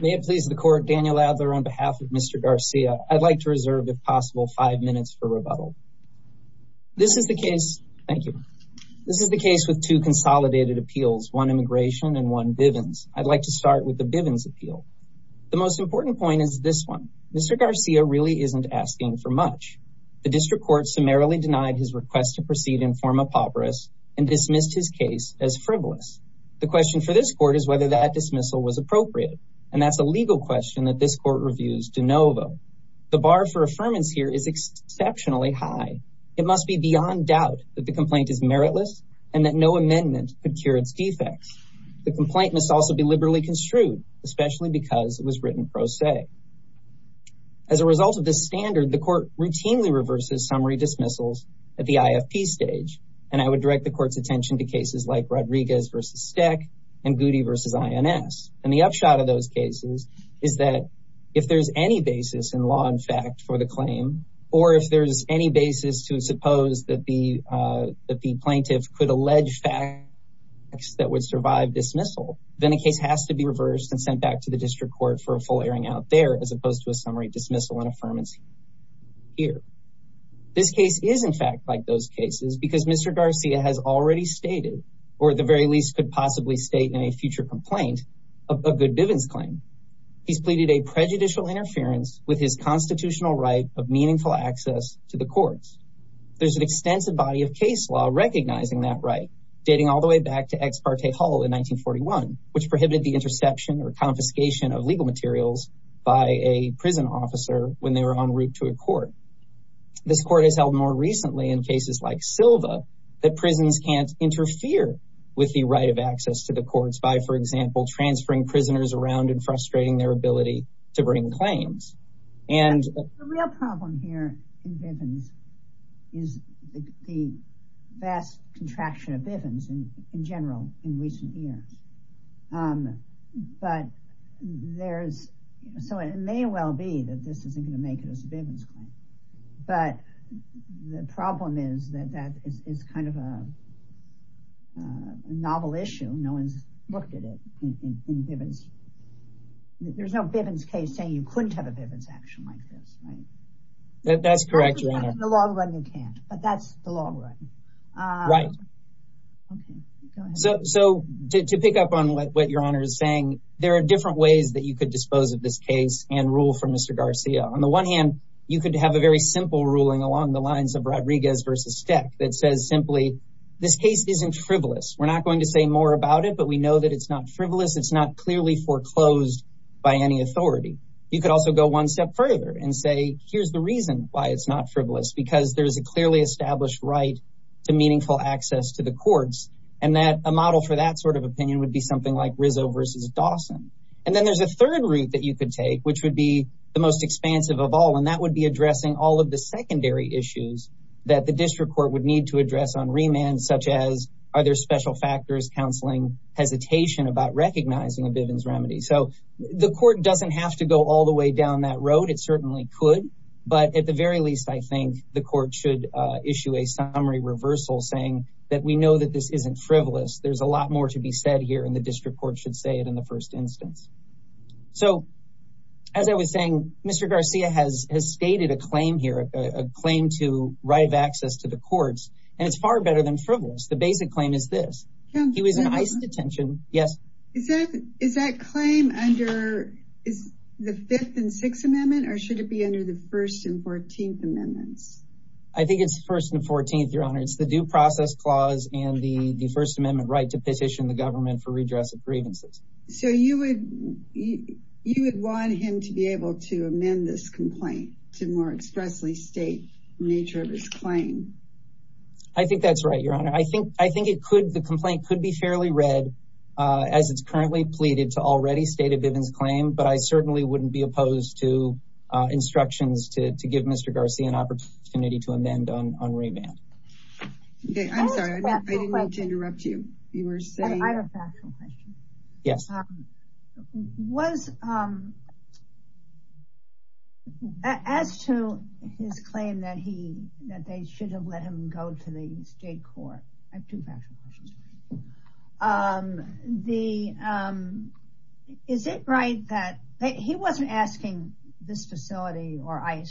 May it please the court Daniel Adler on behalf of Mr. Garcia I'd like to reserve if possible five minutes for rebuttal this is the case thank you this is the case with two consolidated appeals one immigration and one Bivens I'd like to start with the Bivens appeal the most important point is this one Mr. Garcia really isn't asking for much the district court summarily denied his request to proceed in form of pauperous and dismissed his case as frivolous the question for this court is whether that dismissal was appropriate and that's a legal question that this court reviews de novo the bar for affirmance here is exceptionally high it must be beyond doubt that the complaint is meritless and that no amendment could cure its defects the complaint must also be liberally construed especially because it was written pro se as a result of this standard the court routinely reverses summary dismissals at the IFP stage and I would direct the attention to cases like Rodriguez versus Steck and Goody versus INS and the upshot of those cases is that if there's any basis in law in fact for the claim or if there's any basis to suppose that the uh that the plaintiff could allege facts that would survive dismissal then the case has to be reversed and sent back to the district court for a full airing out there as opposed to a summary dismissal and affirmance here this case is in fact like those cases because Mr. Garcia has already stated or at the very least could possibly state in a future complaint a good Bivens claim he's pleaded a prejudicial interference with his constitutional right of meaningful access to the courts there's an extensive body of case law recognizing that right dating all the way back to ex parte hull in 1941 which prohibited the interception or confiscation of legal materials by a prison officer when they were en route to a court this court has held more recently in cases like Silva that prisons can't interfere with the right of access to the courts by for example transferring prisoners around and frustrating their ability to bring claims and the real problem here in Bivens is the vast contraction of Bivens in general in recent years but there's so it may well be that this isn't going to make it as a Bivens claim but the problem is that that is kind of a novel issue no one's looked at it in Bivens there's no Bivens case saying you couldn't have a Bivens action like this right that's correct you're in the long run you can't but that's the long run right okay so so to pick up on what your honor is saying there are different ways that you could dispose of this case and rule from Mr. Garcia on the one hand you could have a very simple ruling along the lines of Rodriguez versus Steck that says simply this case isn't frivolous we're not going to say more about it but we know that it's not frivolous it's not clearly foreclosed by any authority you could also go one step further and say here's the reason why it's not frivolous because there's a clearly established right to meaningful access to the courts and that a model for that sort of opinion would be something like Rizzo versus Dawson and then there's a third route that you could take which would be the most expansive of all and that would be addressing all of the secondary issues that the district court would need to address on remand such as are there special factors counseling hesitation about recognizing a Bivens remedy so the court doesn't have to go all the way down that road it certainly could but at the very least I think the court should issue a summary reversal saying that we know that this isn't frivolous there's a lot more to be said here the district court should say it in the first instance so as I was saying Mr. Garcia has has stated a claim here a claim to right of access to the courts and it's far better than frivolous the basic claim is this he was in ICE detention yes is that is that claim under is the fifth and sixth amendment or should it be under the first and 14th amendments I think it's first and 14th your honor it's the due process clause and the the first amendment right to petition the government for redress of grievances so you would you you would want him to be able to amend this complaint to more expressly state the nature of his claim I think that's right your honor I think I think it could the complaint could be fairly read as it's currently pleaded to already state a Bivens claim but I certainly wouldn't be opposed to instructions to to give Mr. Garcia an opportunity to amend on on remand okay I'm sorry I didn't mean to interrupt you you were saying I have a factual question yes was um as to his claim that he that they should have let him go to the state court I have two factual questions um the um is it right that he wasn't asking this facility or yeah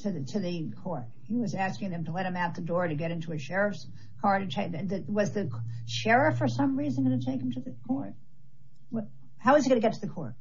to the to the court he was asking them to let him out the door to get into a sheriff's car to take that was the sheriff for some reason going to take him to the court what how is he going to get to the court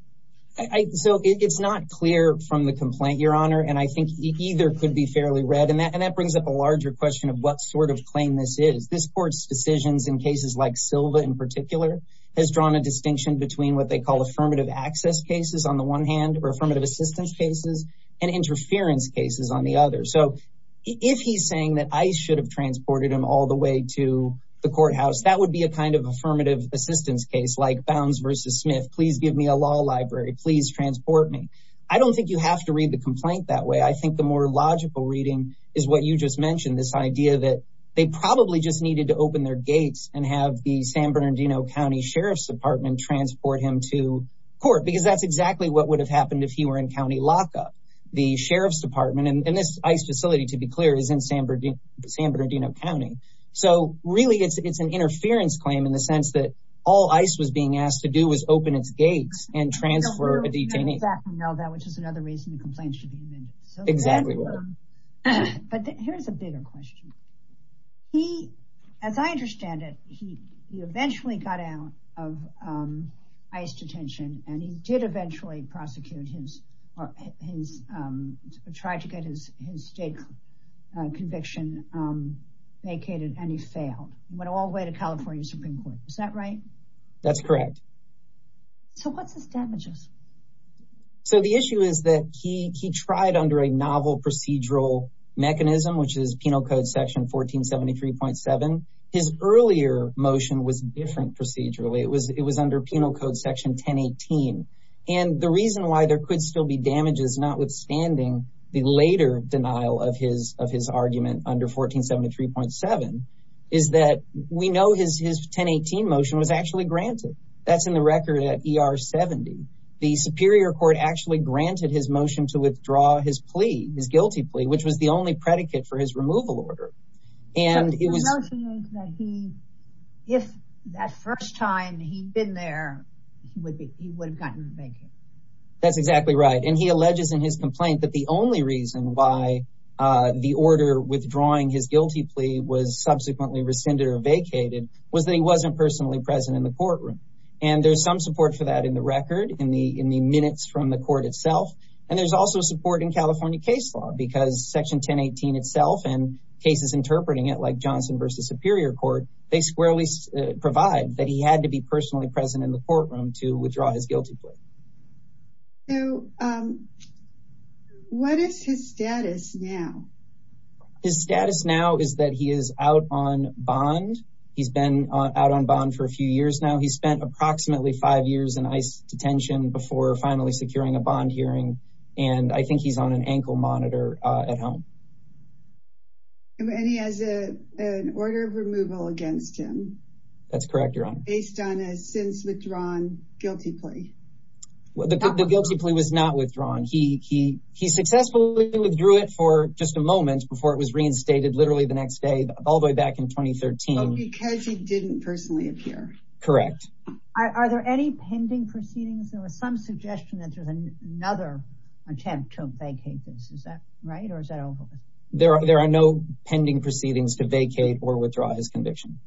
I so it's not clear from the complaint your honor and I think either could be fairly read and that brings up a larger question of what sort of claim this is this court's decisions in cases like Silva in particular has drawn a distinction between what they call affirmative access cases on the one hand or affirmative assistance cases and interference cases on the other so if he's saying that I should have transported him all the way to the courthouse that would be a kind of affirmative assistance case like Bounds versus Smith please give me a law library please transport me I don't think you have to read the complaint that way I think the more logical reading is what you just mentioned this idea that they probably just needed to open their gates and have the San Bernardino County Sheriff's Department transport him to court because that's exactly what would have happened if he were in County Lockup the Sheriff's Department and this ICE facility to be clear is in San Bernardino County so really it's it's an interference claim in the sense that all ICE was being asked to do was open its gates and transfer a detainee exactly now that which is another reason the complaints should be amended exactly but here's a bigger question he as I understand it he he eventually got out of ICE detention and he did eventually prosecute his or his tried to get his his state conviction vacated and he failed went all the way to California Supreme Court is that right that's correct so what's his damages so the issue is that he he tried under a novel procedural mechanism which is penal code section 1473.7 his earlier motion was different procedurally it was under penal code section 1018 and the reason why there could still be damages notwithstanding the later denial of his of his argument under 1473.7 is that we know his his 1018 motion was actually granted that's in the record at er 70 the superior court actually granted his motion to withdraw his plea his guilty plea which was the only predicate for his removal order and it was that he if that first time he'd been there he would be he would have gotten vacated that's exactly right and he alleges in his complaint that the only reason why uh the order withdrawing his guilty plea was subsequently rescinded or vacated was that he wasn't personally present in the courtroom and there's some support for that in the record in the in the minutes from the court itself and there's also support in California case law because section 1018 itself and cases interpreting it like johnson versus superior court they squarely provide that he had to be personally present in the courtroom to withdraw his guilty plea so um what is his status now his status now is that he is out on bond he's been out on bond for a few years now he spent approximately five years in ice detention before finally securing a bond and i think he's on an ankle monitor uh at home and he has a an order of removal against him that's correct your honor based on a since withdrawn guilty plea the guilty plea was not withdrawn he he he successfully withdrew it for just a moment before it was reinstated literally the next day all the way back in 2013 because he didn't personally appear correct are there any attempt to vacate this is that right or is that over there are there are no pending proceedings to vacate or withdraw his conviction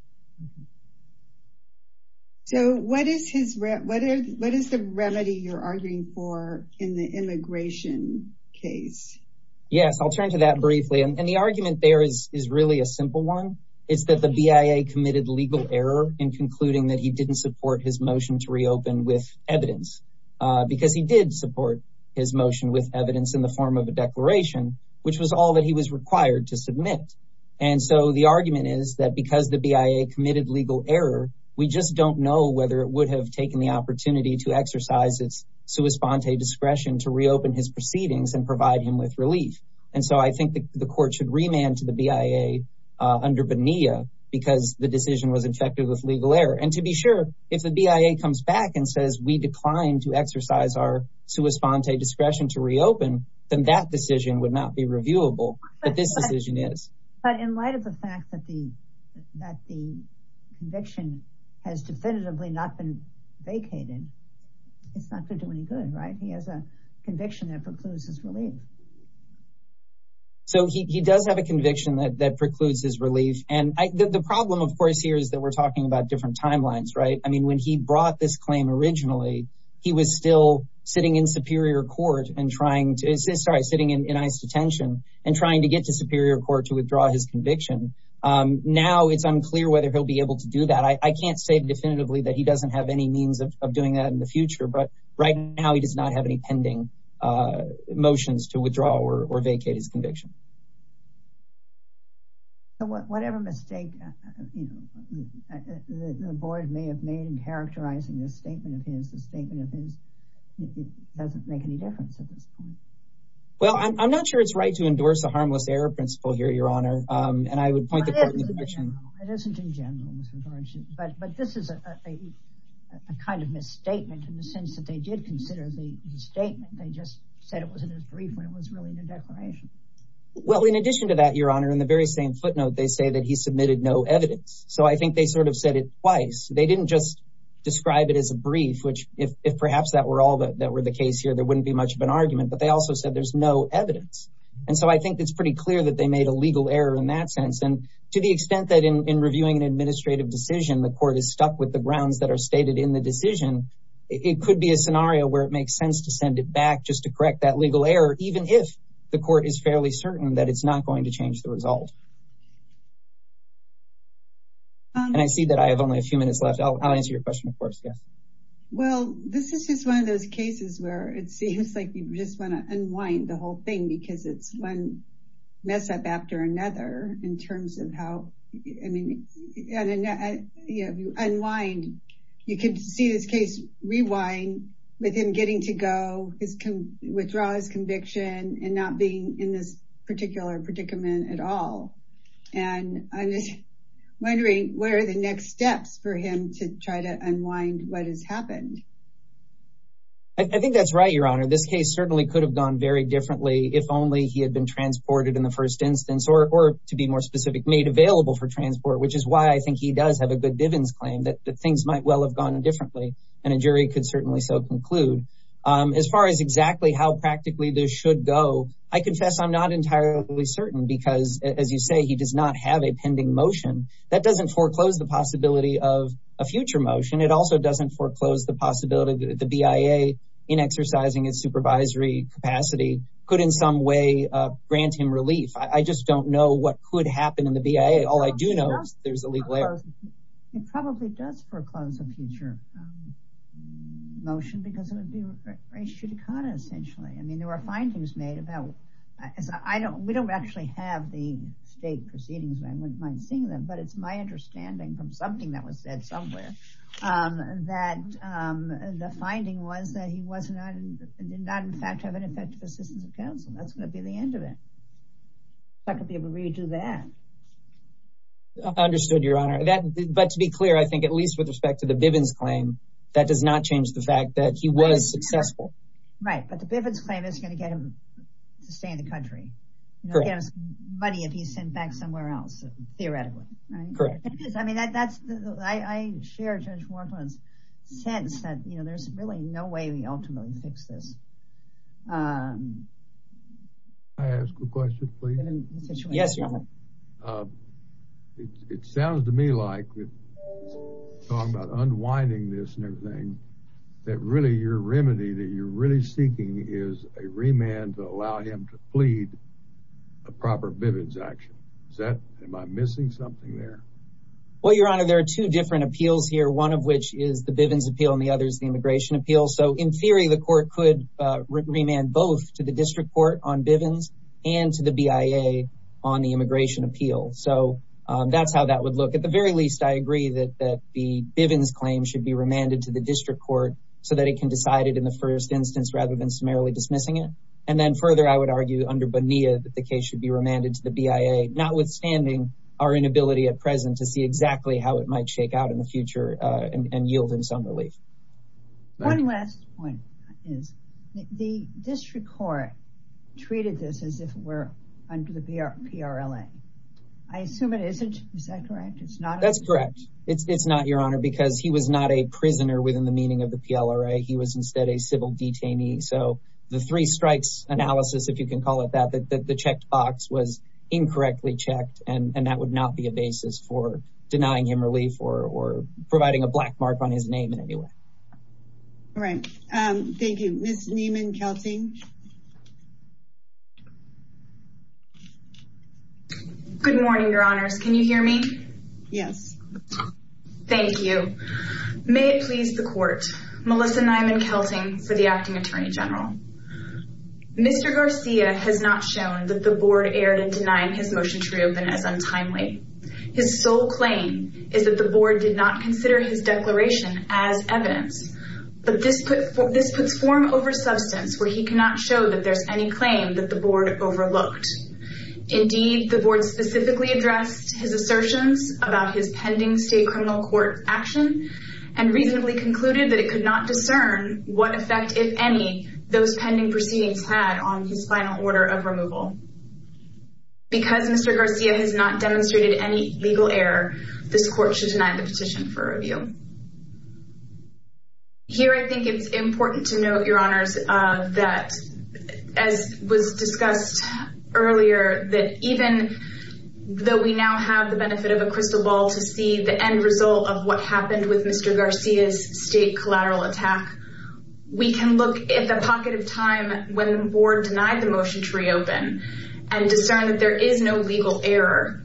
so what is his what is what is the remedy you're arguing for in the immigration case yes i'll turn to that briefly and the argument there is is really a simple one it's that the bia committed legal error in concluding that he didn't support his motion to reopen with evidence because he did support his motion with evidence in the form of a declaration which was all that he was required to submit and so the argument is that because the bia committed legal error we just don't know whether it would have taken the opportunity to exercise its sua sponte discretion to reopen his proceedings and provide him with relief and so i think the court should remand to the bia under bonilla because the decision was infected with legal error and to be sure if the bia comes back and says we decline to exercise our sua sponte discretion to reopen then that decision would not be reviewable but this decision is but in light of the fact that the that the conviction has definitively not been vacated it's not going to do any good right he has a conviction that precludes his relief so he he does have a conviction that that precludes his relief and i the problem of course here is that we're talking about different timelines right i mean when he brought this claim originally he was still sitting in superior court and trying to assist sorry sitting in ice detention and trying to get to superior court to withdraw his conviction um now it's unclear whether he'll be able to do that i can't say definitively that he doesn't have any means of doing that in the future but right now he does not have any pending uh motions to withdraw or vacate his conviction so whatever mistake you know the board may have made in characterizing this statement of his statement of his it doesn't make any difference at this point well i'm not sure it's right to endorse the harmless error principle here your honor um and i would point the court in the direction it isn't in general disregard but but this is a a a kind of misstatement in the sense that they did consider the the statement they just said it wasn't as brief when it was really in declination well in addition to that your honor in the very same footnote they say that he submitted no evidence so i think they sort of said it twice they didn't just describe it as a brief which if perhaps that were all that were the case here there wouldn't be much of an argument but they also said there's no evidence and so i think it's pretty clear that they made a legal error in that sense and to the extent that in in reviewing an administrative decision the court is stuck with the grounds that are stated in the decision it could be a scenario where it the court is fairly certain that it's not going to change the result and i see that i have only a few minutes left i'll answer your question of course yes well this is just one of those cases where it seems like you just want to unwind the whole thing because it's one mess up after another in terms of how i mean and you know you unwind you can see this case rewind with him getting to go his can withdraw his conviction and not being in this particular predicament at all and i'm just wondering what are the next steps for him to try to unwind what has happened i think that's right your honor this case certainly could have gone very differently if only he had been transported in the first instance or to be more specific made available for transport which is why i think he does have a good divins claim that things might well have gone differently and a jury could certainly so conclude as far as exactly how practically this should go i confess i'm not entirely certain because as you say he does not have a pending motion that doesn't foreclose the possibility of a future motion it also doesn't foreclose the possibility the bia in exercising its supervisory capacity could in some way uh grant him relief i just don't know what could happen in the bia all i do know is where it probably does foreclose a future motion because it would be ratio to kata essentially i mean there were findings made about as i don't we don't actually have the state proceedings i wouldn't mind seeing them but it's my understanding from something that was said somewhere um that um the finding was that he was not not in fact have an effective assistance of counsel that's going to but to be clear i think at least with respect to the bivens claim that does not change the fact that he was successful right but the bivens claim is going to get him to stay in the country money if he's sent back somewhere else theoretically right correct i mean that that's i share judge ward's sense that you know there's really no way we ultimately fix this um can i ask a question please yes your honor uh it sounds to me like with talking about unwinding this and everything that really your remedy that you're really seeking is a remand to allow him to plead a proper bivens action is that am i missing something there well your honor there are two different appeals here one of which is the bivens appeal and the other immigration appeal so in theory the court could remand both to the district court on bivens and to the bia on the immigration appeal so that's how that would look at the very least i agree that that the bivens claim should be remanded to the district court so that it can decide it in the first instance rather than summarily dismissing it and then further i would argue under bonita that the case should be remanded to the bia notwithstanding our inability at present to one last point is the district court treated this as if we're under the prla i assume it isn't is that correct it's not that's correct it's it's not your honor because he was not a prisoner within the meaning of the plra he was instead a civil detainee so the three strikes analysis if you can call it that the checked box was incorrectly checked and and that would not be a basis for all right um thank you miss neiman kelting good morning your honors can you hear me yes thank you may it please the court melissa neiman kelting for the acting attorney general mr garcia has not shown that the board erred in denying his motion to reopen as untimely his sole claim is that the board did not consider his declaration as evidence but this put this puts form over substance where he cannot show that there's any claim that the board overlooked indeed the board specifically addressed his assertions about his pending state criminal court action and reasonably concluded that it could not discern what effect if any those pending proceedings had on his final order of removal because mr garcia has not demonstrated any legal error this court should deny the petition for review here i think it's important to note your honors uh that as was discussed earlier that even though we now have the benefit of a crystal ball to see the end result of what happened with mr garcia's state collateral attack we can look at the pocket of time when the board denied the motion to reopen and discern that there is no legal error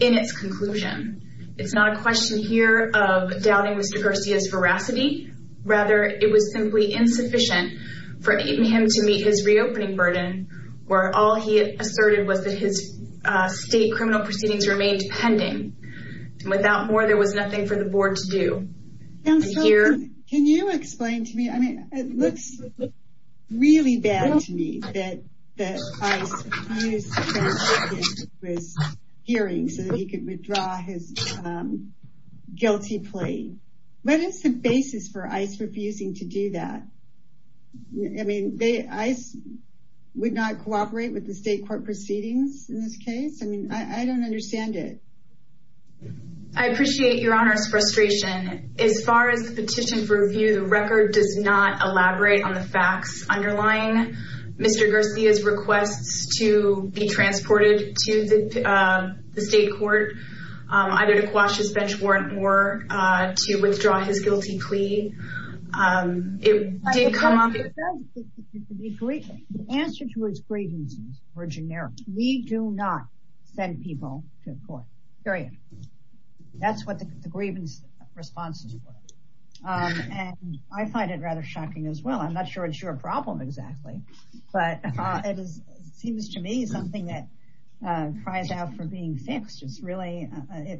in its conclusion it's not a question here of doubting mr garcia's veracity rather it was simply insufficient for even him to meet his reopening burden where all he asserted was that his uh state criminal proceedings remained pending without more there was nothing for the board to do here can you explain to me i mean it looks really bad to me that that i was hearing so that he could withdraw his um guilty plea what is the basis for ice refusing to do that i mean they ice would not cooperate with the state court proceedings in this case i mean i i don't understand it i appreciate your honor's facts underlying mr garcia's requests to be transported to the uh the state court either to quash his bench warrant or uh to withdraw his guilty plea um it did come up the answer to his grievances were generic we do not send people to court period that's what the exactly but uh it is seems to me something that uh cries out for being fixed it's really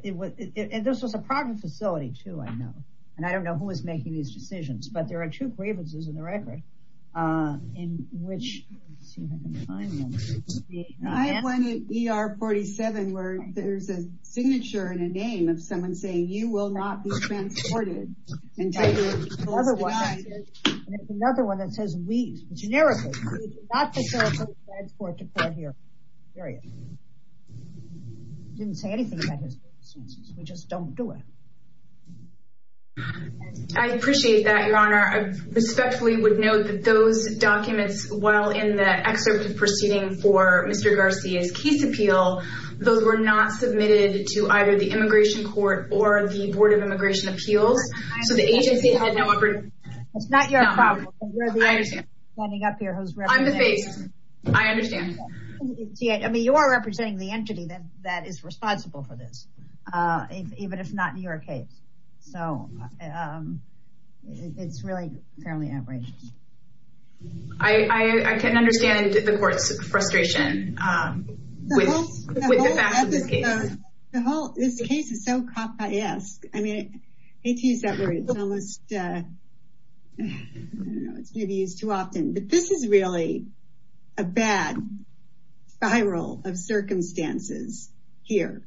it was it this was a private facility too i know and i don't know who was making these decisions but there are two grievances in the record uh in which let's see if i can find one i have one er 47 where there's a signature and a name of someone saying you will not be transported to another one and it's another one that says we generically not for transport to court here period didn't say anything about his we just don't do it i appreciate that your honor i respectfully would note that those documents while in the excerpt of proceeding for mr garcia's case appeal those were not submitted to either the immigration court or the board of immigration appeals so the agency had no effort it's not your problem you're standing up here who's i'm the face i understand i mean you are representing the entity that that is responsible for this uh even if not in your case so um it's really fairly outrageous i i can understand the court's frustration um with this case the whole this case is so cop i ask i mean i hate to use that word it's almost uh i don't know it's maybe used too often but this is really a bad spiral of circumstances here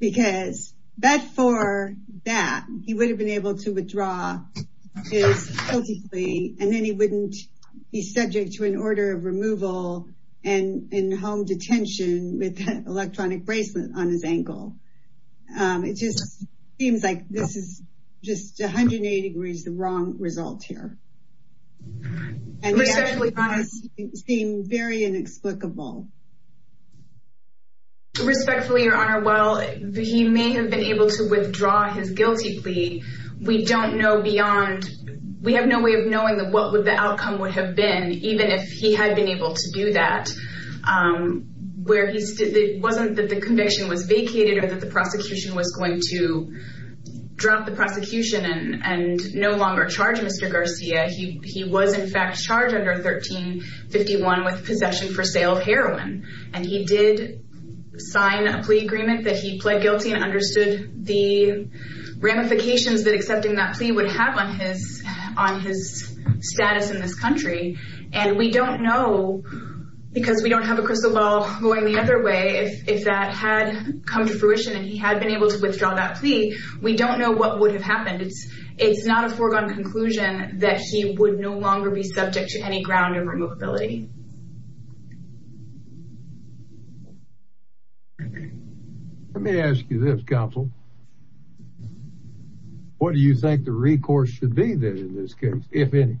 because that for that he would have been able to withdraw his guilty plea and then he wouldn't be subject to an order of removal and in home detention with that electronic bracelet on his ankle um it just seems like this is just 180 degrees the wrong result here seem very inexplicable respectfully your honor well he may have been able to withdraw his guilty we don't know beyond we have no way of knowing that what would the outcome would have been even if he had been able to do that um where he stood it wasn't that the conviction was vacated or that the prosecution was going to drop the prosecution and and no longer charge mr garcia he he was in fact charged under 13 51 with possession for sale of heroin and he did sign a plea agreement that he pled guilty and understood the ramifications that accepting that plea would have on his on his status in this country and we don't know because we don't have a crystal ball going the other way if if that had come to fruition and he had been able to withdraw that plea we don't know what would have happened it's it's not a foregone conclusion that he would be subject to any ground and removability let me ask you this counsel what do you think the recourse should be then in this case if any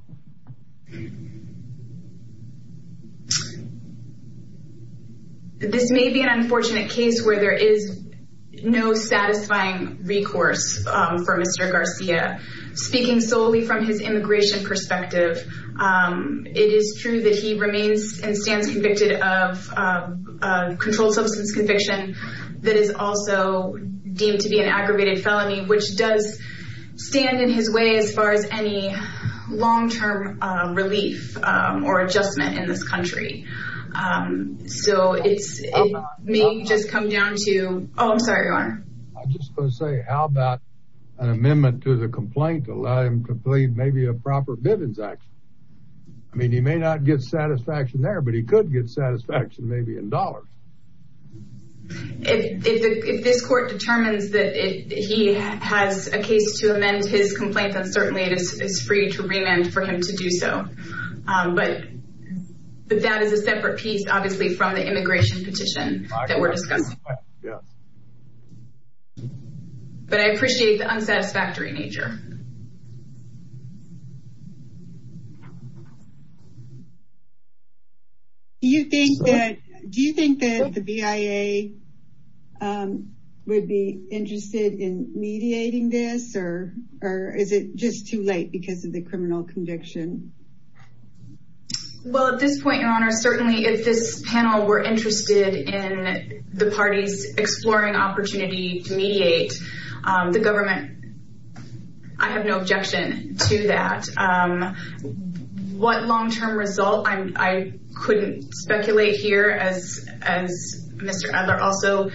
this may be an unfortunate case where there is no satisfying recourse um for mr garcia speaking solely from his immigration perspective um it is true that he remains and stands convicted of a controlled substance conviction that is also deemed to be an aggravated felony which does stand in his way as far as any long-term relief or adjustment in this country so it's me just come down to oh i'm sorry your honor i'm just going to say how about an amendment to the complaint to allow him to plead maybe a proper bivens action i mean he may not get satisfaction there but he could get satisfaction maybe in dollars if if this court determines that he has a case to amend his complaint then certainly it is free to remand for him to do so um but but that is a separate piece obviously from the immigration petition that we're discussing yeah but i appreciate the unsatisfactory nature do you think that do you think that the bia um would be interested in mediating this or or is it just too late because of the criminal conviction well at this point your honor certainly if this panel were interested in the parties exploring opportunity to mediate um the government i have no objection to that um what long-term result i'm i couldn't speculate here as as mr edler also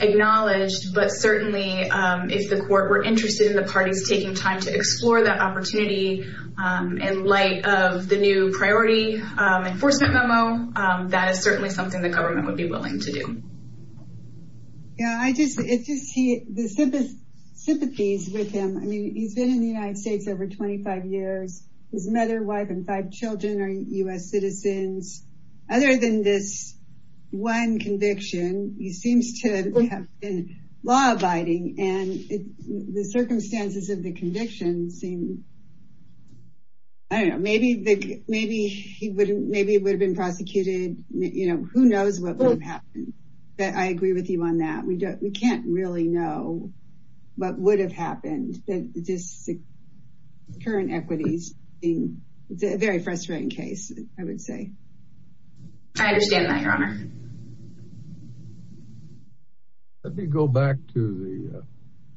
acknowledged but certainly if the court were interested in the parties taking time to explore that opportunity in light of the new priority enforcement memo that is certainly something the government would be willing to do yeah i just it's just he the sympathies with him i mean he's been in the united states over 25 years his mother wife and five children are u.s citizens other than this one conviction he seems to have been law-abiding and the circumstances of the conviction seem i don't know maybe the maybe he wouldn't maybe it would have been prosecuted you know who knows what would have happened but i agree with you on that we don't we can't really know what would have happened that this current equities being it's a very frustrating case i would say i understand that your honor let me go back to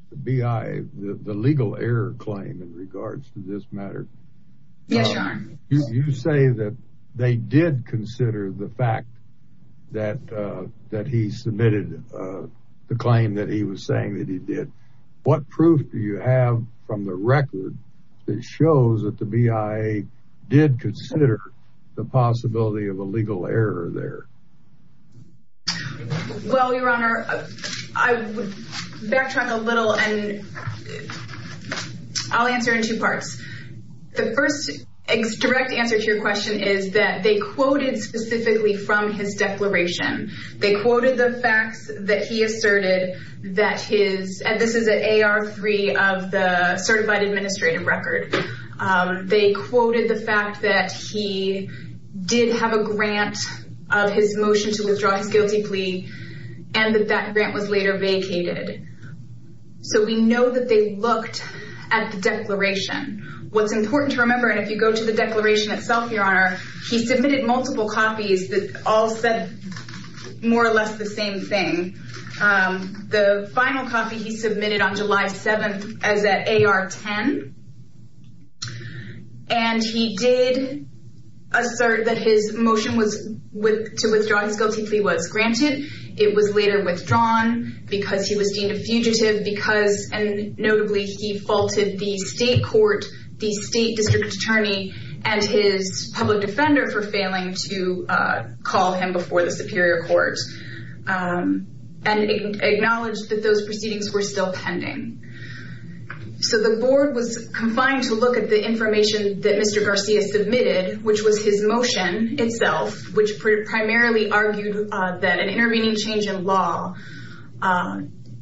the b.i the legal error claim in regards to this matter yes you say that they did consider the fact that uh that he submitted uh the claim that he was saying that he did what proof do you have from the record that shows that the b.i.a. did consider the possibility of a legal error there well your honor i would backtrack a little and i'll answer in two parts the first direct answer to your question is that they quoted specifically from his declaration they quoted the facts that he asserted that his and this is an ar3 of the he did have a grant of his motion to withdraw his guilty plea and that that grant was later vacated so we know that they looked at the declaration what's important to remember and if you go to the declaration itself your honor he submitted multiple copies that all said more or less the same thing the final copy he submitted on july 7th as at ar10 and he did assert that his motion was with to withdraw his guilty plea was granted it was later withdrawn because he was deemed a fugitive because and notably he faulted the state court the state district attorney and his public defender for failing to call him before the and acknowledged that those proceedings were still pending so the board was confined to look at the information that mr garcia submitted which was his motion itself which primarily argued that an intervening change in law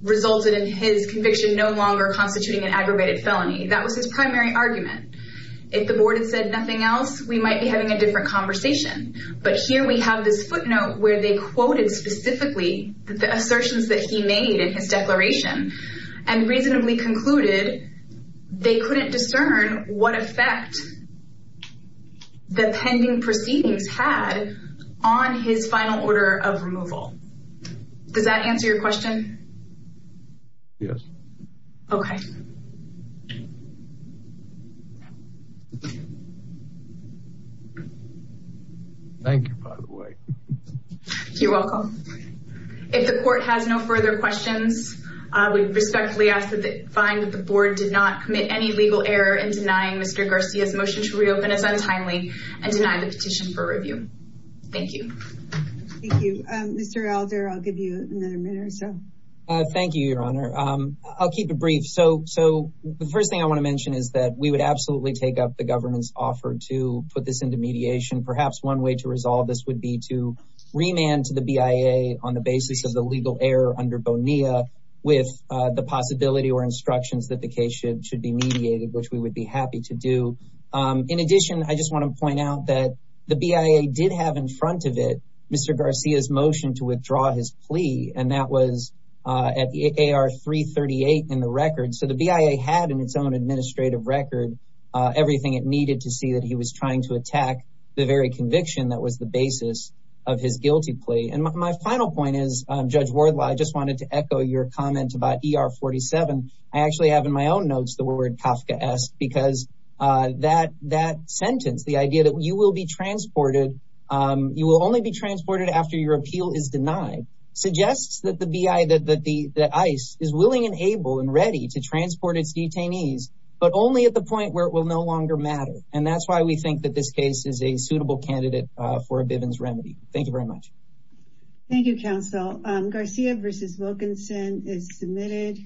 resulted in his conviction no longer constituting an aggravated felony that was his primary argument if the board had said nothing else we might be having a conversation but here we have this footnote where they quoted specifically the assertions that he made in his declaration and reasonably concluded they couldn't discern what effect the pending proceedings had on his final order of removal does that answer your question yes okay thank you by the way you're welcome if the court has no further questions i would respectfully ask that they find that the board did not commit any legal error in denying mr garcia's motion to reopen as untimely and deny the petition for review thank you thank you um mr alder i'll give you another minute or so uh thank you your honor um i'll keep it brief so so the first thing i want to mention is that we would absolutely take up the government's offer to put this into mediation perhaps one way to resolve this would be to remand to the bia on the basis of the legal error under bonilla with uh the possibility or instructions that the case should be mediated which we would be happy to do um in addition i just want to point out that the bia did have in front of it mr garcia's motion to withdraw his plea and that was uh at the ar 338 in the record so the bia had in its own administrative record uh everything it needed to see that he was trying to attack the very conviction that was the basis of his guilty plea and my final point is um judge wardlaw i just wanted to echo your comment about er 47 i actually have in my own notes the word kafka s because uh that that sentence the idea that you will be transported um you will only be transported after your appeal is denied suggests that the bi that the the ice is willing and able and ready to transport its detainees but only at the point where it will no longer matter and that's why we think that this case is a suitable candidate uh for a bivens remedy thank you very much thank you counsel um garcia versus wilkinson is submitted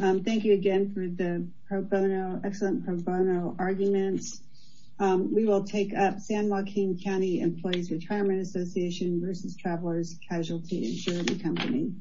um thank you again for the pro bono excellent pro bono arguments um we will take up san joaquin county employees retirement association versus travelers casualty insurance company